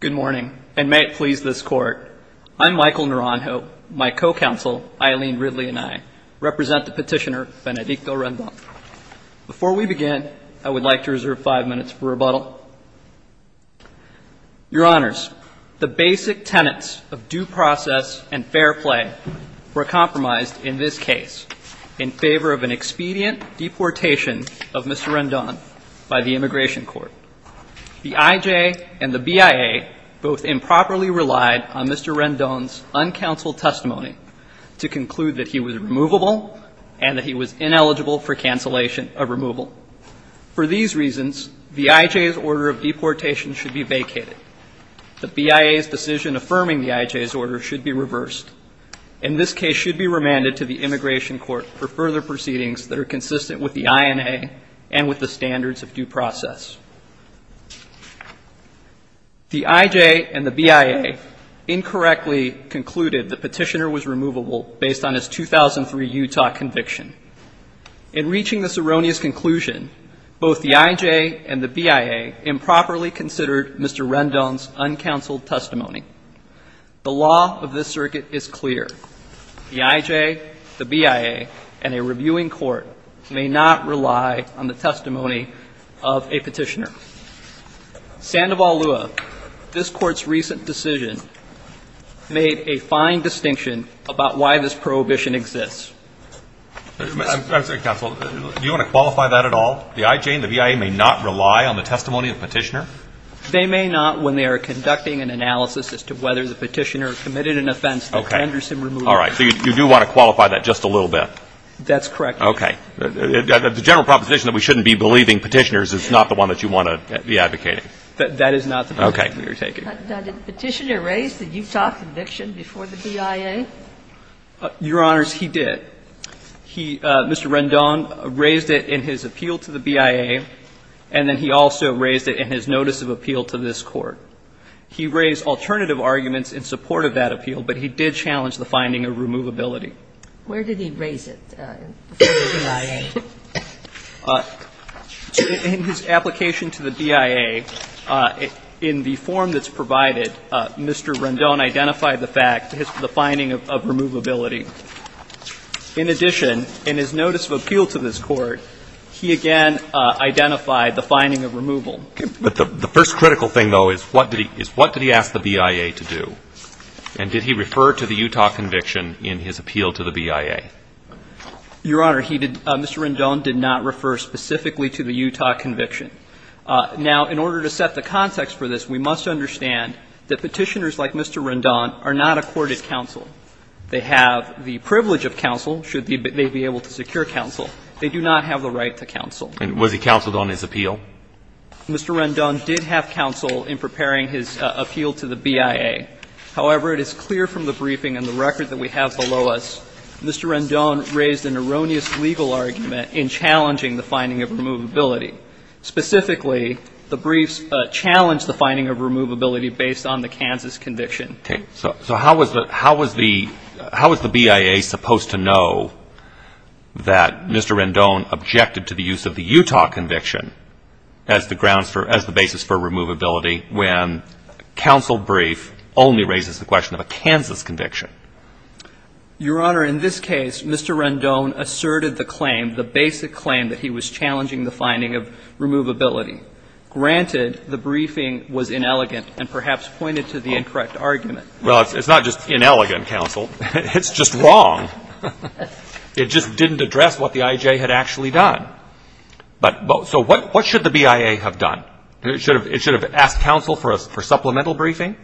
Good morning, and may it please this Court, I'm Michael Naranjo, my co-counsel Eileen Ridley and I represent the petitioner Benedicto Rendon. Before we begin, I would like to reserve five minutes for rebuttal. Your Honors, the basic tenets of due process and fair play were compromised in this case, in favor of an expedient deportation of Mr. Rendon by the Immigration Court. The I.J. and the B.I.A. both improperly relied on Mr. Rendon's uncounseled testimony to conclude that he was removable and that he was ineligible for cancellation of removal. For these reasons, the I.J.'s order of deportation should be vacated. The B.I.A.'s decision affirming the I.J.'s order should be reversed, and this case should be remanded to the Immigration Court for further proceedings that are consistent with the I.N.A. and with the standards of due process. The I.J. and the B.I.A. incorrectly concluded the petitioner was removable based on his 2003 Utah conviction. In reaching this erroneous conclusion, both the I.J. and the B.I.A. improperly considered Mr. Rendon's uncounseled testimony. The law of this circuit is clear. The I.J., the B.I.A., and a reviewing court may not rely on the testimony of a petitioner. Sandoval Lua, this Court's recent decision made a fine distinction about why this prohibition exists. I'm sorry, Counsel. Do you want to qualify that at all? The I.J. and the B.I.A. may not rely on the testimony of the petitioner? They may not when they are conducting an analysis as to whether the petitioner committed an offense that Henderson removed. Okay. All right. So you do want to qualify that just a little bit? That's correct. Okay. The general proposition that we shouldn't be believing petitioners is not the one that you want to be advocating. That is not the position we are taking. Okay. Now, did the petitioner raise the Utah conviction before the B.I.A.? Your Honors, he did. He, Mr. Rendon, raised it in his appeal to the B.I.A., and then he also raised it in his notice of appeal to this Court. He raised alternative arguments in support of that appeal, but he did challenge the finding of removability. Where did he raise it before the B.I.A.? In his application to the B.I.A., in the form that's provided, Mr. Rendon identified the fact, the finding of removability. In addition, in his notice of appeal to this Court, he again identified the finding of removal. Okay. But the first critical thing, though, is what did he ask the B.I.A. to do? And did he refer to the Utah conviction in his appeal to the B.I.A.? Your Honor, he did. Mr. Rendon did not refer specifically to the Utah conviction. Now, in order to set the context for this, we must understand that petitioners like Mr. Rendon are not a courted counsel. They have the privilege of counsel, should they be able to secure counsel. They do not have the right to counsel. And was he counseled on his appeal? Mr. Rendon did have counsel in preparing his appeal to the B.I.A. However, it is clear from the briefing and the record that we have below us, Mr. Rendon raised an erroneous legal argument in challenging the finding of removability. Specifically, the briefs challenged the finding of removability based on the Kansas conviction. Okay. So how was the B.I.A. supposed to know that Mr. Rendon objected to the use of the Utah conviction as the basis for removability when counsel brief only raises the question of a Kansas conviction? Your Honor, in this case, Mr. Rendon asserted the claim, the basic claim that he was challenging the finding of removability. Granted, the briefing was inelegant and perhaps pointed to the incorrect argument. Well, it's not just inelegant, counsel. It's just wrong. It just didn't address what the I.J. had actually done. So what should the B.I.A. have done? It should have asked counsel for supplemental briefing?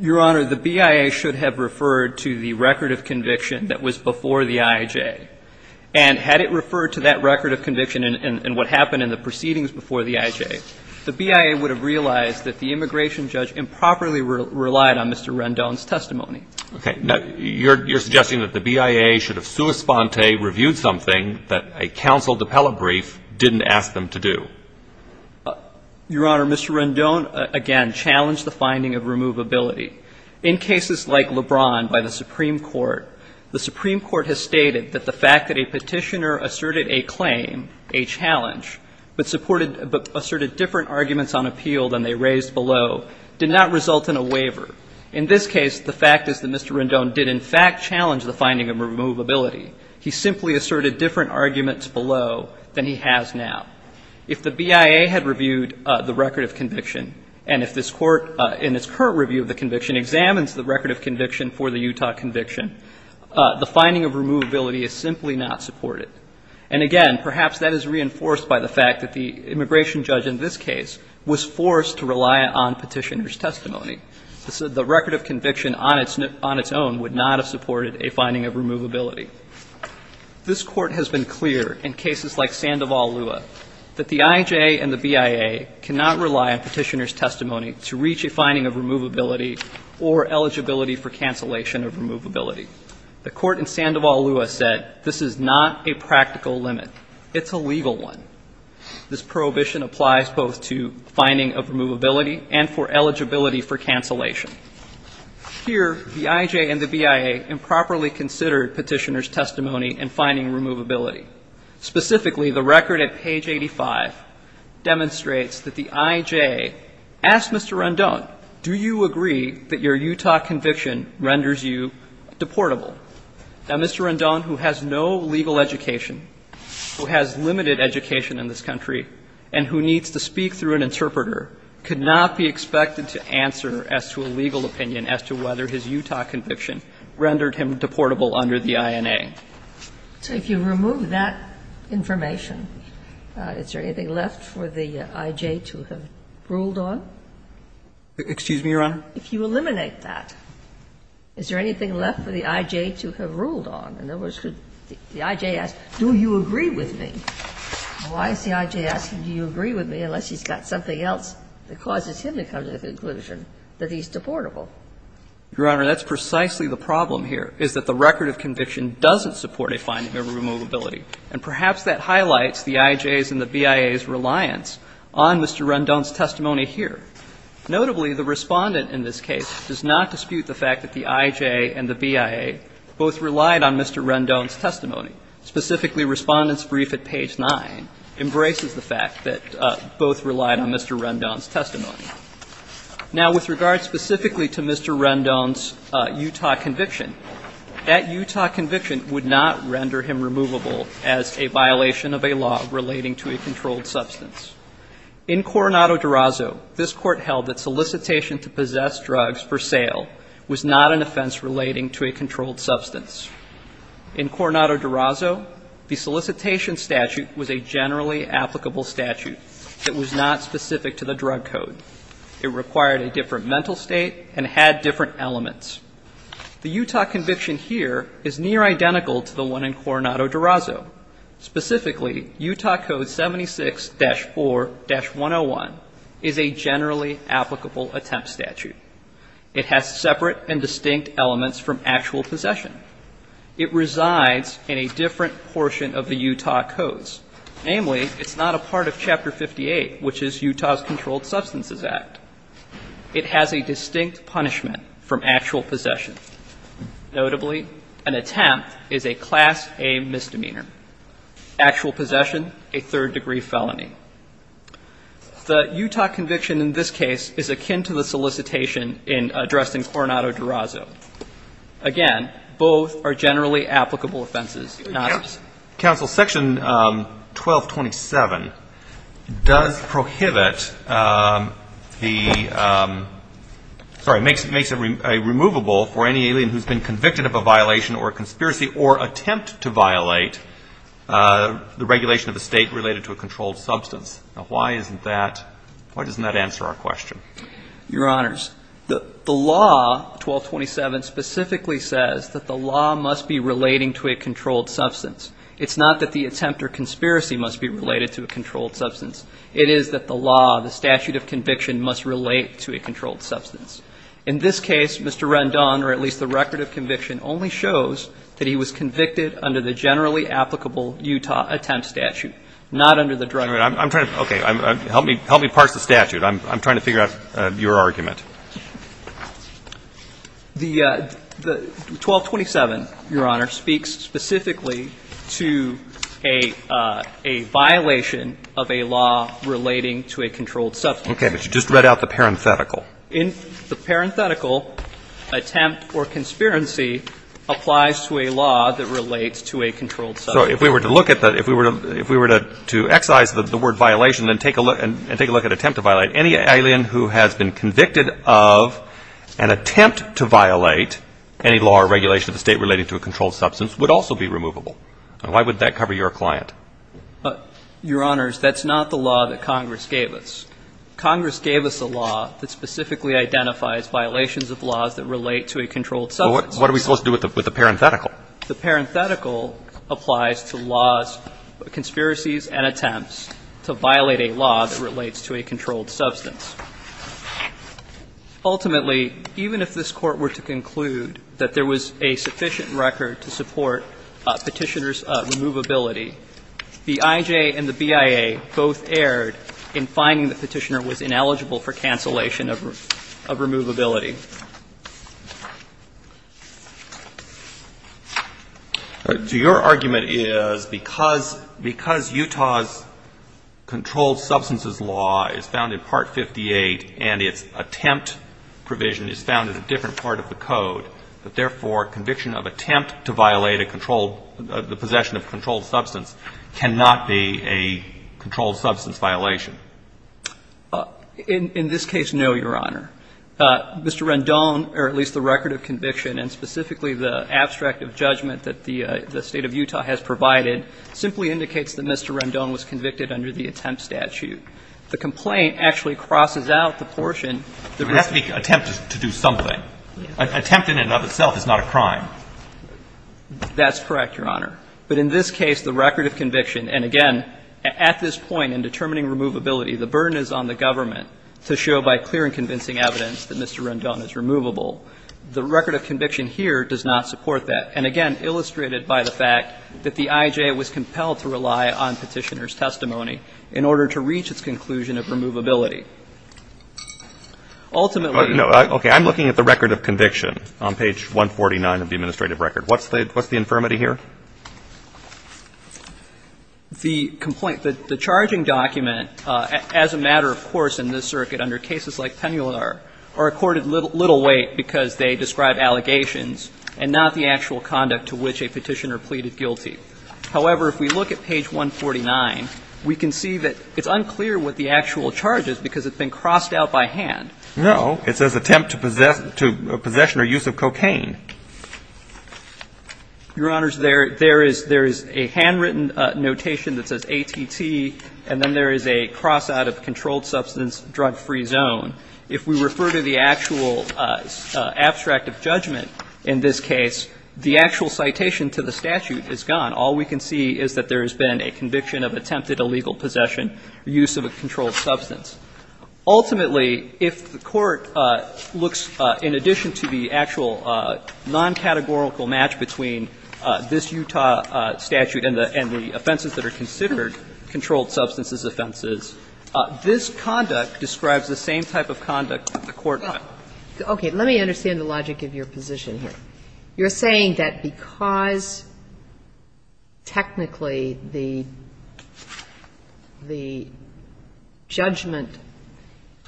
Your Honor, the B.I.A. should have referred to the record of conviction that was before the I.J. And had it referred to that record of conviction and what happened in the proceedings before the I.J., the B.I.A. would have realized that the immigration judge improperly relied on Mr. Rendon's testimony. Okay. Now, you're suggesting that the B.I.A. should have sua sponte reviewed something that a counsel appellate brief didn't ask them to do? Your Honor, Mr. Rendon, again, challenged the finding of removability. In cases like LeBron by the Supreme Court, the Supreme Court has stated that the fact that a petitioner asserted a claim, a challenge, but asserted different arguments on appeal than they raised below did not result in a waiver. In this case, the fact is that Mr. Rendon did, in fact, challenge the finding of removability. He simply asserted different arguments below than he has now. If the B.I.A. had reviewed the record of conviction and if this Court, in its current review of the conviction, examines the record of conviction for the Utah conviction, the finding of removability is simply not supported. And, again, perhaps that is reinforced by the fact that the immigration judge in this case was forced to rely on petitioner's testimony. The record of conviction on its own would not have supported a finding of removability. This Court has been clear in cases like Sandoval-Lua that the I.J. and the B.I.A. cannot rely on petitioner's testimony to reach a finding of removability or eligibility for cancellation of removability. The Court in Sandoval-Lua said this is not a practical limit. It's a legal one. This prohibition applies both to finding of removability and for eligibility for cancellation. Here, the I.J. and the B.I.A. improperly considered petitioner's testimony in finding removability. Specifically, the record at page 85 demonstrates that the I.J. asked Mr. Rendon, do you agree that your Utah conviction renders you deportable? Now, Mr. Rendon, who has no legal education, who has limited education in this country and who needs to speak through an interpreter, could not be expected to answer as to a legal opinion as to whether his Utah conviction rendered him deportable under the I.N.A. So if you remove that information, is there anything left for the I.J. to have ruled on? Excuse me, Your Honor? If you eliminate that, is there anything left for the I.J. to have ruled on? In other words, could the I.J. ask, do you agree with me? Why is the I.J. asking do you agree with me unless he's got something else that causes him to come to the conclusion that he's deportable? Your Honor, that's precisely the problem here, is that the record of conviction doesn't support a finding of removability. And perhaps that highlights the I.J.'s and the B.I.A.'s reliance on Mr. Rendon's testimony here. Notably, the respondent in this case does not dispute the fact that the I.J. and the B.I.A. both relied on Mr. Rendon's testimony. Specifically, Respondent's Brief at page 9 embraces the fact that both relied on Mr. Rendon's testimony. Now, with regard specifically to Mr. Rendon's Utah conviction, that Utah conviction would not render him removable as a violation of a law relating to a controlled substance. In Coronado-Durazo, this Court held that solicitation to possess drugs for sale was not an offense relating to a controlled substance. In Coronado-Durazo, the solicitation statute was a generally applicable statute that was not specific to the drug code. It required a different mental state and had different elements. The Utah conviction here is near identical to the one in Coronado-Durazo. Specifically, Utah Code 76-4-101 is a generally applicable attempt statute. It has separate and distinct elements from actual possession. It resides in a different portion of the Utah codes. Namely, it's not a part of Chapter 58, which is Utah's Controlled Substances Act. It has a distinct punishment from actual possession. Notably, an attempt is a Class A misdemeanor. Actual possession, a third-degree felony. The Utah conviction in this case is akin to the solicitation addressed in Coronado-Durazo. Again, both are generally applicable offenses. Excuse me, counsel. Section 1227 does prohibit the, sorry, makes it removable for any alien who's been convicted of a violation or a conspiracy or attempt to violate the regulation of a state related to a controlled substance. Now, why isn't that, why doesn't that answer our question? Your Honors, the law, 1227, specifically says that the law must be relating to a controlled substance. It's not that the attempt or conspiracy must be related to a controlled substance. It is that the law, the statute of conviction must relate to a controlled substance. In this case, Mr. Rendon, or at least the record of conviction, only shows that he was convicted under the generally applicable Utah attempt statute, not under the drug. I'm trying to, okay, help me parse the statute. I'm trying to figure out your argument. The 1227, Your Honor, speaks specifically to a violation of a law relating to a controlled substance. Okay. But you just read out the parenthetical. In the parenthetical, attempt or conspiracy applies to a law that relates to a controlled substance. So if we were to look at that, if we were to excise the word violation and take a look at attempt to violate, any alien who has been convicted of an attempt to violate any law or regulation of the State relating to a controlled substance would also be removable. Why would that cover your client? Your Honors, that's not the law that Congress gave us. Congress gave us a law that specifically identifies violations of laws that relate to a controlled substance. Well, what are we supposed to do with the parenthetical? The parenthetical applies to laws, conspiracies and attempts to violate a law that relates to a controlled substance. Ultimately, even if this Court were to conclude that there was a sufficient record to support Petitioner's removability, the IJ and the BIA both erred in finding that Petitioner was ineligible for cancellation of removability. So your argument is because Utah's controlled substances law is found in Part 58 and its attempt provision is found in a different part of the code, that therefore conviction of attempt to violate a controlled, the possession of a controlled substance cannot be a controlled substance violation? In this case, no, Your Honor. Mr. Rendon, or at least the record of conviction and specifically the abstract of judgment that the State of Utah has provided, simply indicates that Mr. Rendon was convicted under the attempt statute. The complaint actually crosses out the portion. It has to be an attempt to do something. An attempt in and of itself is not a crime. That's correct, Your Honor. But in this case, the record of conviction, and again, at this point in determining removability, the burden is on the government to show by clear and convincing evidence that Mr. Rendon is removable. The record of conviction here does not support that. And again, illustrated by the fact that the IJ was compelled to rely on Petitioner's testimony in order to reach its conclusion of removability. Ultimately. No. Okay. I'm looking at the record of conviction on page 149 of the administrative record. What's the infirmity here? The complaint. The charging document, as a matter, of course, in this circuit under cases like Pennular, are accorded little weight because they describe allegations and not the actual conduct to which a Petitioner pleaded guilty. However, if we look at page 149, we can see that it's unclear what the actual charge is because it's been crossed out by hand. No. It says, Your Honor, there is a handwritten notation that says ATT, and then there is a cross out of controlled substance, drug-free zone. If we refer to the actual abstract of judgment in this case, the actual citation to the statute is gone. All we can see is that there has been a conviction of attempted illegal possession or use of a controlled substance. This looks, in addition to the actual non-categorical match between this Utah statute and the offenses that are considered controlled substances offenses, this conduct describes the same type of conduct that the court had. Okay. Let me understand the logic of your position here. You're saying that because, technically, the judgment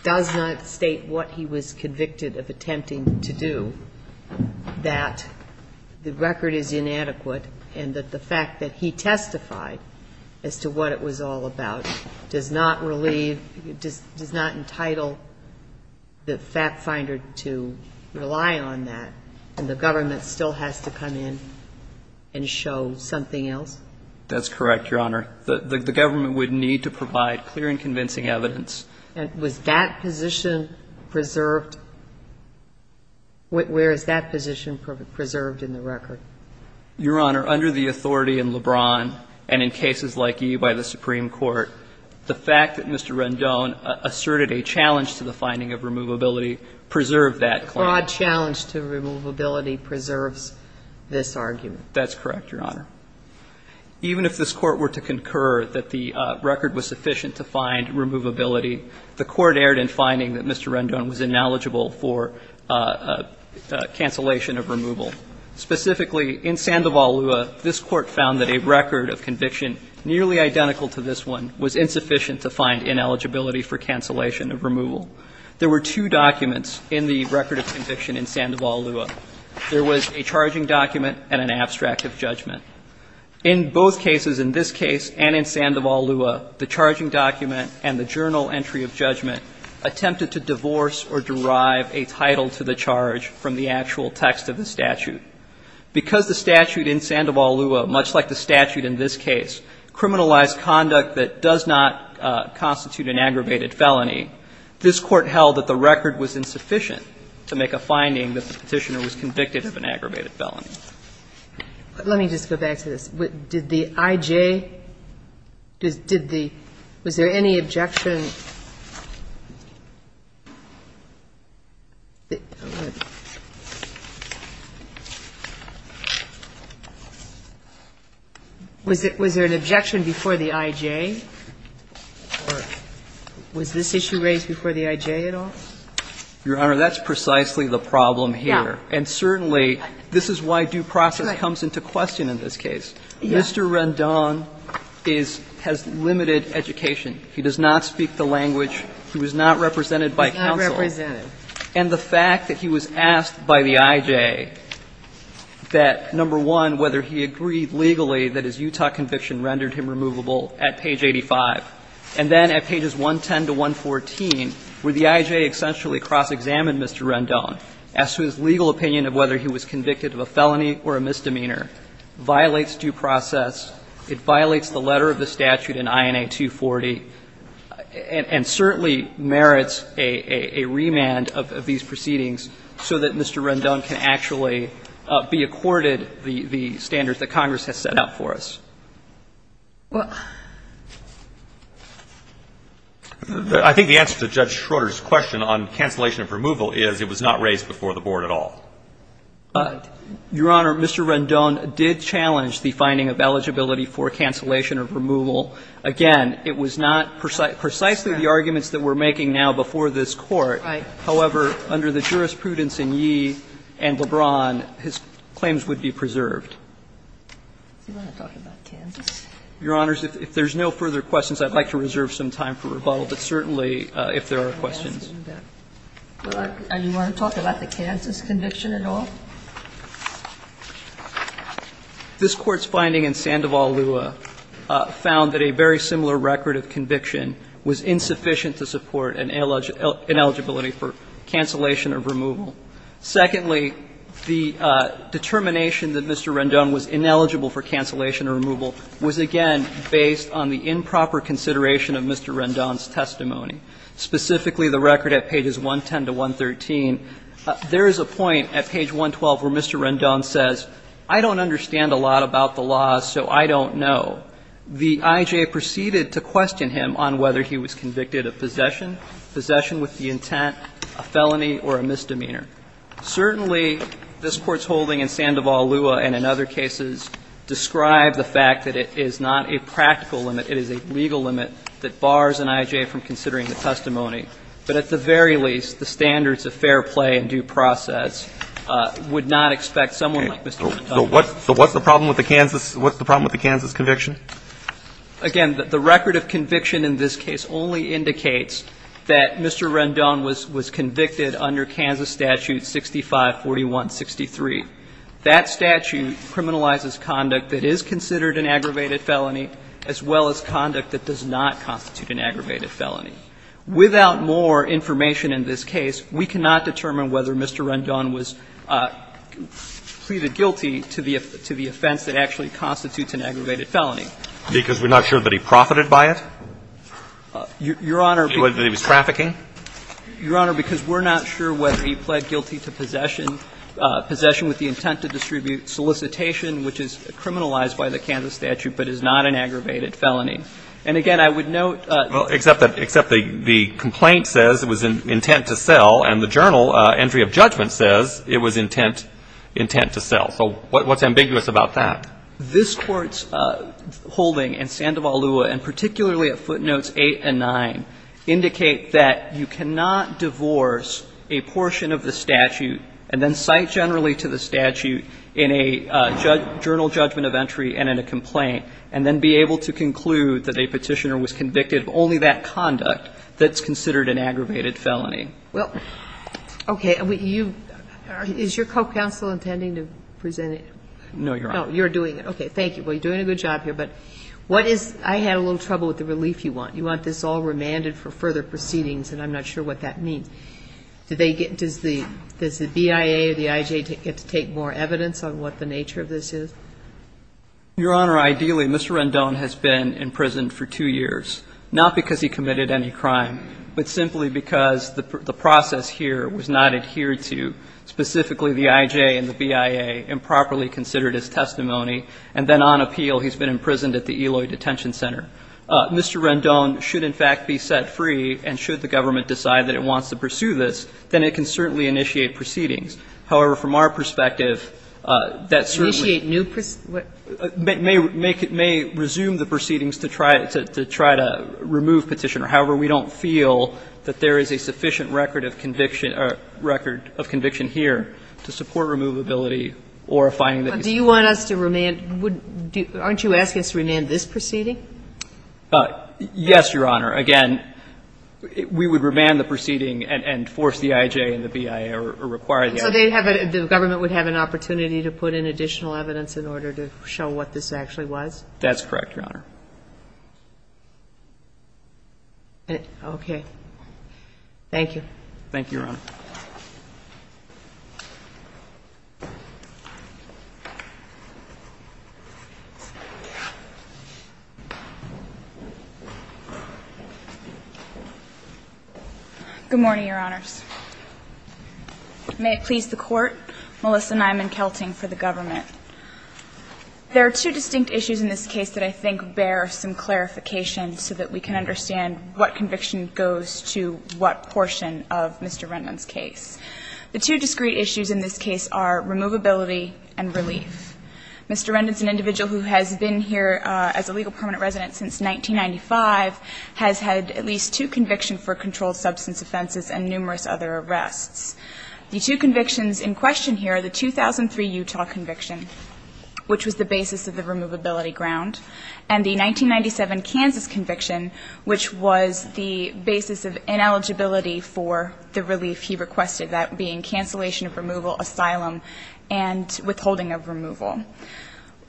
does not state what he was convicted of attempting to do, that the record is inadequate and that the fact that he testified as to what it was all about does not entitle the fact finder to rely on that and the government still has to come in and show something else? That's correct, Your Honor. The government would need to provide clear and convincing evidence. And was that position preserved? Where is that position preserved in the record? Your Honor, under the authority in LeBron and in cases like E by the Supreme Court, the fact that Mr. Rendon asserted a challenge to the finding of removability preserved that claim. A broad challenge to removability preserves this argument. That's correct, Your Honor. Even if this Court were to concur that the record was sufficient to find removability the Court erred in finding that Mr. Rendon was ineligible for cancellation of removal. Specifically, in Sandoval Lua, this Court found that a record of conviction nearly identical to this one was insufficient to find ineligibility for cancellation of removal. There were two documents in the record of conviction in Sandoval Lua. There was a charging document and an abstract of judgment. In both cases, in this case and in Sandoval Lua, the charging document and the journal entry of judgment attempted to divorce or derive a title to the charge from the actual text of the statute. Because the statute in Sandoval Lua, much like the statute in this case, criminalized conduct that does not constitute an aggravated felony, this Court held that the record was insufficient to make a finding that the Petitioner was convicted of an aggravated Let me just go back to this. Did the I.J. Did the – was there any objection? Was there an objection before the I.J.? Or was this issue raised before the I.J. at all? Your Honor, that's precisely the problem here. Yeah. And certainly, this is why due process comes into question in this case. Mr. Rendon is – has limited education. He does not speak the language. He was not represented by counsel. He was not represented. And the fact that he was asked by the I.J. that, number one, whether he agreed legally that his Utah conviction rendered him removable at page 85, and then at pages 110 to 114, where the I.J. essentially cross-examined Mr. Rendon as to his legal opinion of whether he was convicted of a felony or a misdemeanor, violates due process, it violates the letter of the statute in INA 240, and certainly merits a remand of these proceedings so that Mr. Rendon can actually be accorded the standards that Congress has set out for us. I think the answer to Judge Schroeder's question on cancellation of removal is it was not raised before the Board at all. Your Honor, Mr. Rendon did challenge the finding of eligibility for cancellation of removal. Again, it was not precisely the arguments that we're making now before this Court. Right. However, under the jurisprudence in Yee and LeBron, his claims would be preserved. Do you want to talk about Kansas? Your Honors, if there's no further questions, I'd like to reserve some time for rebuttal. But certainly, if there are questions. Do you want to talk about the Kansas conviction at all? This Court's finding in Sandoval-Lua found that a very similar record of conviction was insufficient to support an ineligibility for cancellation of removal. Secondly, the determination that Mr. Rendon was ineligible for cancellation of removal was, again, based on the improper consideration of Mr. Rendon's testimony, specifically the record at pages 110 to 113. There is a point at page 112 where Mr. Rendon says, I don't understand a lot about the law, so I don't know. The IJ proceeded to question him on whether he was convicted of possession, possession with the intent, a felony, or a misdemeanor. Certainly, this Court's holding in Sandoval-Lua and in other cases describe the fact that it is not a practical limit. It is a legal limit that bars an IJ from considering the testimony. But at the very least, the standards of fair play and due process would not expect someone like Mr. Rendon. So what's the problem with the Kansas conviction? Again, the record of conviction in this case only indicates that Mr. Rendon was convicted under Kansas Statute 654163. That statute criminalizes conduct that is considered an aggravated felony as well as conduct that does not constitute an aggravated felony. Without more information in this case, we cannot determine whether Mr. Rendon was Your Honor, because we're not sure whether he pled guilty to possession, possession with the intent to distribute solicitation, which is criminalized by the Kansas statute but is not an aggravated felony. And again, I would note that Well, except the complaint says it was intent to sell, and the journal entry of judgment says it was intent to sell. So what's ambiguous about that? This Court's holding in Sandoval-Lua, and particularly at footnotes 8 and 9, indicate that you cannot divorce a portion of the statute and then cite generally to the statute in a journal judgment of entry and in a complaint, and then be able to conclude that a petitioner was convicted of only that conduct that's considered an aggravated felony. Well, okay. Is your co-counsel intending to present it? No, Your Honor. No, you're doing it. Okay. Thank you. Well, you're doing a good job here. But what is – I had a little trouble with the relief you want. You want this all remanded for further proceedings, and I'm not sure what that means. Do they get – does the BIA or the IJ get to take more evidence on what the nature of this is? Your Honor, ideally, Mr. Rendon has been imprisoned for two years, not because he committed any crime, but simply because the process here was not adhered to, specifically the IJ and the BIA improperly considered his testimony, and then on appeal he's been imprisoned at the Eloy Detention Center. Mr. Rendon should, in fact, be set free, and should the government decide that it wants to pursue this, then it can certainly initiate proceedings. However, from our perspective, that certainly – Initiate new – May resume the proceedings to try to remove Petitioner. However, we don't feel that there is a sufficient record of conviction – record of conviction here to support removability or a finding that he's – Do you want us to remand – aren't you asking us to remand this proceeding? Yes, Your Honor. Again, we would remand the proceeding and force the IJ and the BIA or require the IJ. So they'd have a – the government would have an opportunity to put in additional evidence in order to show what this actually was? That's correct, Your Honor. Okay. Thank you. Thank you, Your Honor. Good morning, Your Honors. May it please the Court, Melissa Nyman-Kelting for the government. There are two distinct issues in this case that I think bear some clarification so that we can understand what conviction goes to what portion of Mr. Rendon's case. The two discrete issues in this case are removability and relief. Mr. Rendon's an individual who has been here as a legal permanent resident since 1995, has had at least two convictions for controlled substance offenses and numerous other arrests. The two convictions in question here are the 2003 Utah conviction, which was the basis of the removability ground, and the 1997 Kansas conviction, which was the basis of ineligibility for the relief he requested, that being cancellation of removal, asylum, and withholding of removal.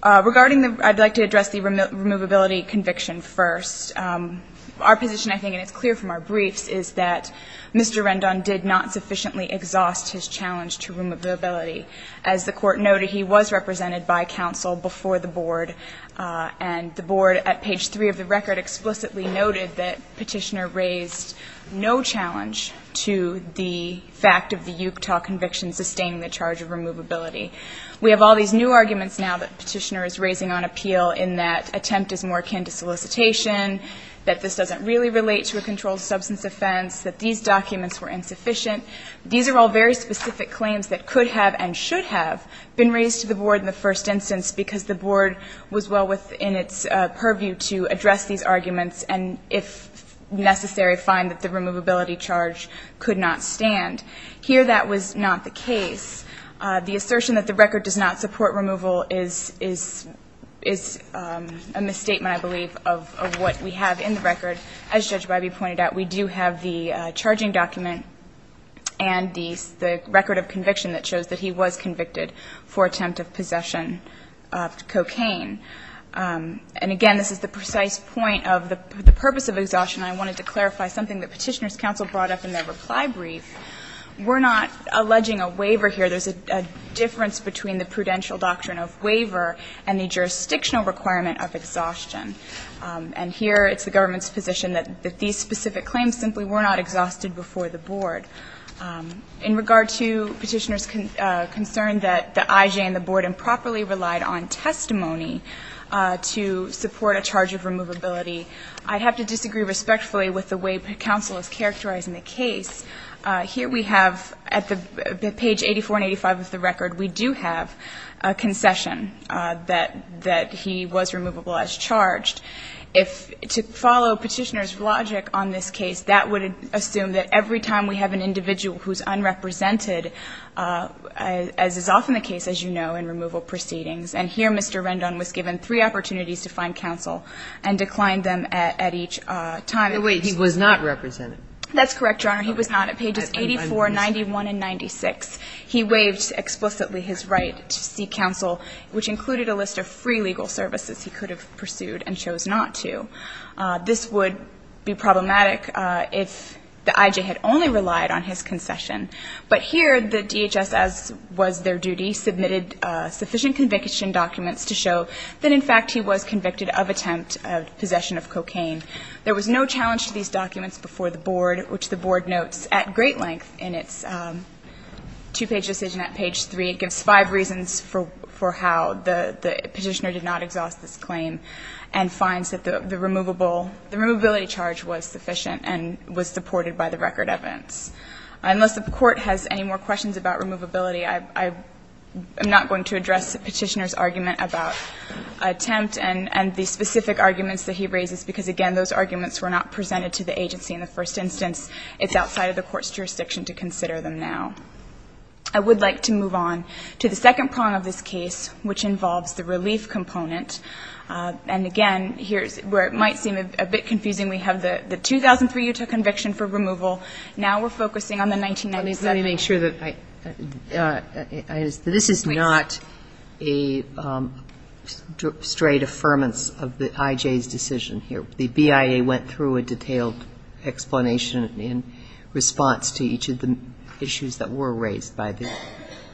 Regarding the – I'd like to address the removability conviction first. Our position, I think, and it's clear from our briefs, is that Mr. Rendon did not sufficiently exhaust his challenge to removability. As the Court noted, he was represented by counsel before the Board, and the Board at page 3 of the record explicitly noted that Petitioner raised no challenge to the fact of the Utah conviction sustaining the charge of removability. We have all these new arguments now that Petitioner is raising on appeal in that attempt is more akin to solicitation, that this doesn't really relate to a controlled substance offense, that these documents were insufficient. These are all very specific claims that could have and should have been raised to the Board in the first instance because the Board was well within its purview to address these arguments and, if necessary, find that the removability charge could not stand. Here, that was not the case. The assertion that the record does not support removal is a misstatement, I believe, of what we have in the record. As Judge Bybee pointed out, we do have the charging document and the record of conviction that shows that he was convicted for attempt of possession of cocaine. And again, this is the precise point of the purpose of exhaustion. I wanted to clarify something that Petitioner's counsel brought up in their reply brief. We're not alleging a waiver here. There's a difference between the prudential doctrine of waiver and the jurisdictional requirement of exhaustion. And here, it's the government's position that these specific claims simply were not exhausted before the Board. In regard to Petitioner's concern that the IJ and the Board improperly relied on testimony to support a charge of removability, I'd have to disagree respectfully with the way counsel is characterizing the case. Here we have, at the page 84 and 85 of the record, we do have a concession that he was removable as charged. To follow Petitioner's logic on this case, that would assume that every time we have an individual who's unrepresented, as is often the case, as you know, in removal proceedings, and here Mr. Rendon was given three opportunities to find counsel and declined them at each time. And he was not represented. That's correct, Your Honor. He was not. At pages 84, 91, and 96, he waived explicitly his right to seek counsel, which included a list of free legal services he could have pursued and chose not to. This would be problematic if the IJ had only relied on his concession. But here, the DHS, as was their duty, submitted sufficient conviction documents to show that, in fact, he was convicted of attempt of possession of cocaine. There was no challenge to these documents before the Board, which the Board notes at great length in its two-page decision at page 3. It gives five reasons for how the Petitioner did not exhaust this claim and finds that the removable, the removability charge was sufficient and was supported by the record evidence. Unless the Court has any more questions about removability, I'm not going to address Petitioner's argument about attempt and the specific arguments that he raises, because, again, those arguments were not presented to the agency in the first instance. It's outside of the Court's jurisdiction to consider them now. I would like to move on to the second prong of this case, which involves the relief component. And, again, here's where it might seem a bit confusing. We have the 2003 Utah conviction for removal. Now we're focusing on the 1997. I just want to make sure that this is not a straight affirmance of the IJ's decision here. The BIA went through a detailed explanation in response to each of the issues that were raised by the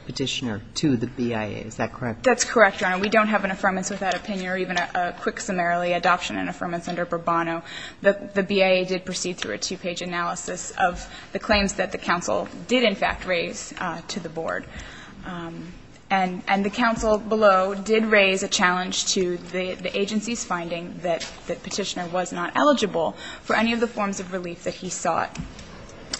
Petitioner to the BIA. Is that correct? That's correct, Your Honor. We don't have an affirmance without opinion or even a quick summarily adoption and affirmance under Bourbono. The BIA did proceed through a two-page analysis of the claims that the counsel did, in fact, raise to the Board. And the counsel below did raise a challenge to the agency's finding that Petitioner was not eligible for any of the forms of relief that he sought.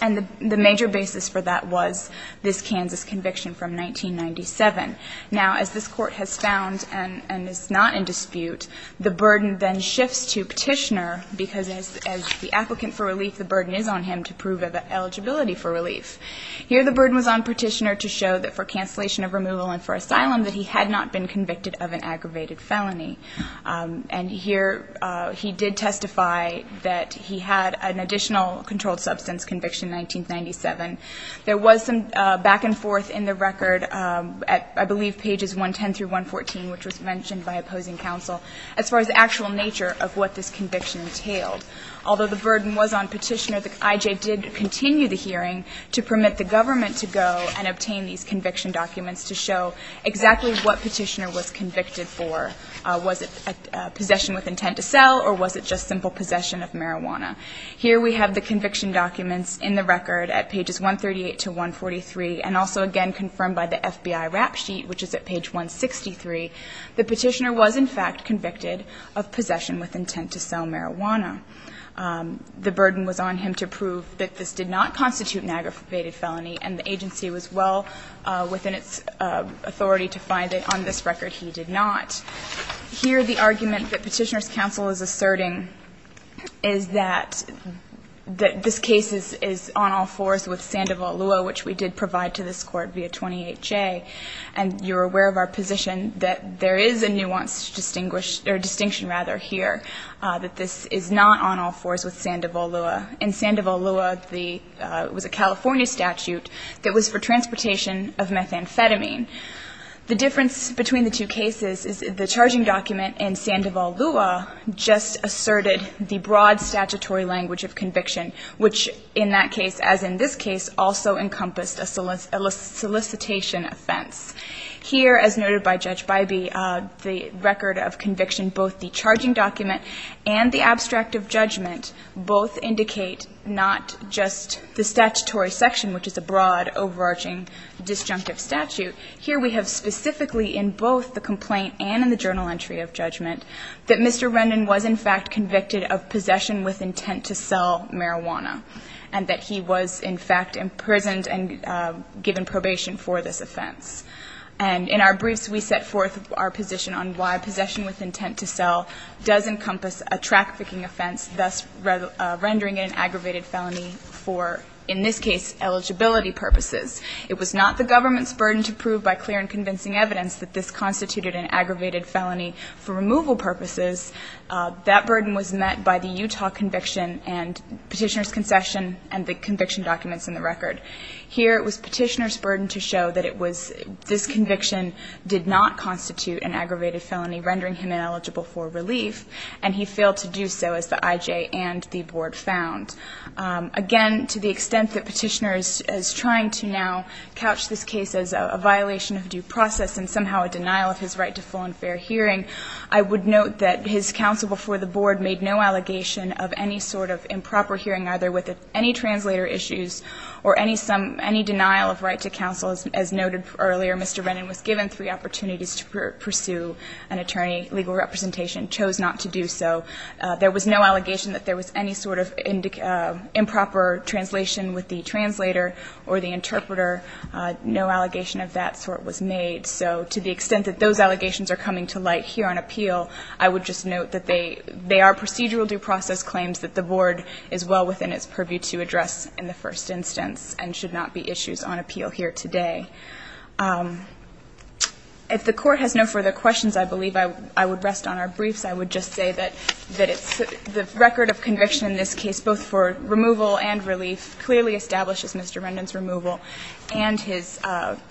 And the major basis for that was this Kansas conviction from 1997. Now, as this Court has found and is not in dispute, the burden then shifts to Petitioner because, as the applicant for relief, the burden is on him to prove eligibility for relief. Here the burden was on Petitioner to show that for cancellation of removal and for asylum that he had not been convicted of an aggravated felony. And here he did testify that he had an additional controlled substance conviction in 1997. There was some back and forth in the record at, I believe, pages 110 through 114, which was mentioned by opposing counsel, as far as the actual nature of what this conviction entailed. Although the burden was on Petitioner, the IJ did continue the hearing to permit the government to go and obtain these conviction documents to show exactly what was it, possession with intent to sell, or was it just simple possession of marijuana. Here we have the conviction documents in the record at pages 138 to 143, and also again confirmed by the FBI rap sheet, which is at page 163. The Petitioner was, in fact, convicted of possession with intent to sell marijuana. The burden was on him to prove that this did not constitute an aggravated felony, and the agency was well within its authority to find that on this record he did not. Here the argument that Petitioner's counsel is asserting is that this case is on all fours with Sandoval-Lewa, which we did provide to this Court via 28J. And you're aware of our position that there is a nuanced distinguished or distinction, rather, here, that this is not on all fours with Sandoval-Lewa. In Sandoval-Lewa, the – it was a California statute that was for transportation of methamphetamine. The difference between the two cases is the charging document in Sandoval-Lewa just asserted the broad statutory language of conviction, which in that case, as in this case, also encompassed a solicitation offense. Here, as noted by Judge Bybee, the record of conviction, both the charging document and the abstract of judgment, both indicate not just the statutory section, which is a broad, overarching, disjunctive statute. Here we have specifically in both the complaint and in the journal entry of judgment that Mr. Rendon was in fact convicted of possession with intent to sell marijuana and that he was in fact imprisoned and given probation for this offense. And in our briefs, we set forth our position on why possession with intent to sell does encompass a trafficking offense, thus rendering it an aggravated felony for, in this case, eligibility purposes. It was not the government's burden to prove by clear and convincing evidence that this constituted an aggravated felony for removal purposes. That burden was met by the Utah conviction and Petitioner's concession and the conviction documents in the record. Here it was Petitioner's burden to show that it was – this conviction did not constitute an aggravated felony, rendering him ineligible for relief, and he failed to do so, as the IJ and the Board found. Again, to the extent that Petitioner is trying to now couch this case as a violation of due process and somehow a denial of his right to full and fair hearing, I would note that his counsel before the Board made no allegation of any sort of improper hearing, either with any translator issues or any denial of right to counsel. As noted earlier, Mr. Rendon was given three opportunities to pursue an attorney. Legal representation chose not to do so. There was no allegation that there was any sort of improper translation with the translator or the interpreter. No allegation of that sort was made. So to the extent that those allegations are coming to light here on appeal, I would just note that they are procedural due process claims that the Board is well within its purview to address in the first instance and should not be issues on appeal here today. If the Court has no further questions, I believe I would rest on our briefs. I would just say that the record of conviction in this case, both for removal and relief, clearly establishes Mr. Rendon's removal and his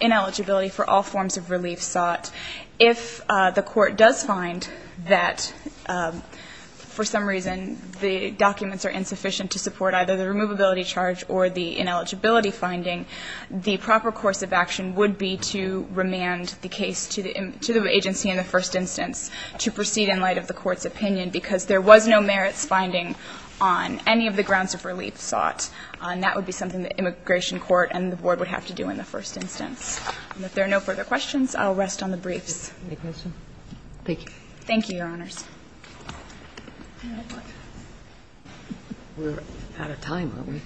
ineligibility for all forms of relief sought. If the Court does find that for some reason the documents are insufficient to support either the removability charge or the ineligibility finding, the proper course of action would be to remand the case to the agency in the first instance to proceed in light of the Court's opinion, because there was no merits finding on any of the grounds of relief sought. And that would be something that immigration court and the Board would have to do in the first instance. And if there are no further questions, I'll rest on the briefs. Thank you. Thank you, Your Honors. We're out of time, aren't we?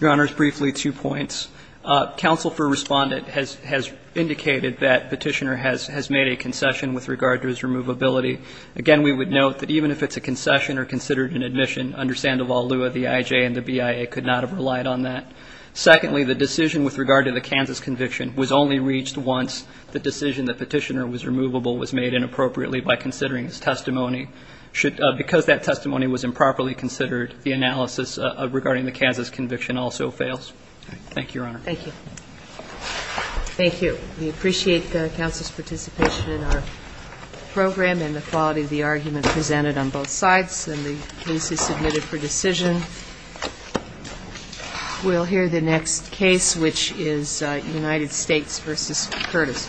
Your Honors, briefly, two points. Counsel for Respondent has indicated that Petitioner has made a concession with regard to his removability. Again, we would note that even if it's a concession or considered an admission, under Sandoval Lua, the IJ and the BIA could not have relied on that. Secondly, the decision with regard to the Kansas conviction was only reached once the decision that Petitioner was removable was made inappropriately by considering his testimony. Because that testimony was improperly considered, the analysis regarding the Kansas conviction also fails. Thank you, Your Honor. Thank you. Thank you. We appreciate the counsel's participation in our program and the quality of the argument presented on both sides, and the case is submitted for decision. We'll hear the next case, which is United States v. Curtis.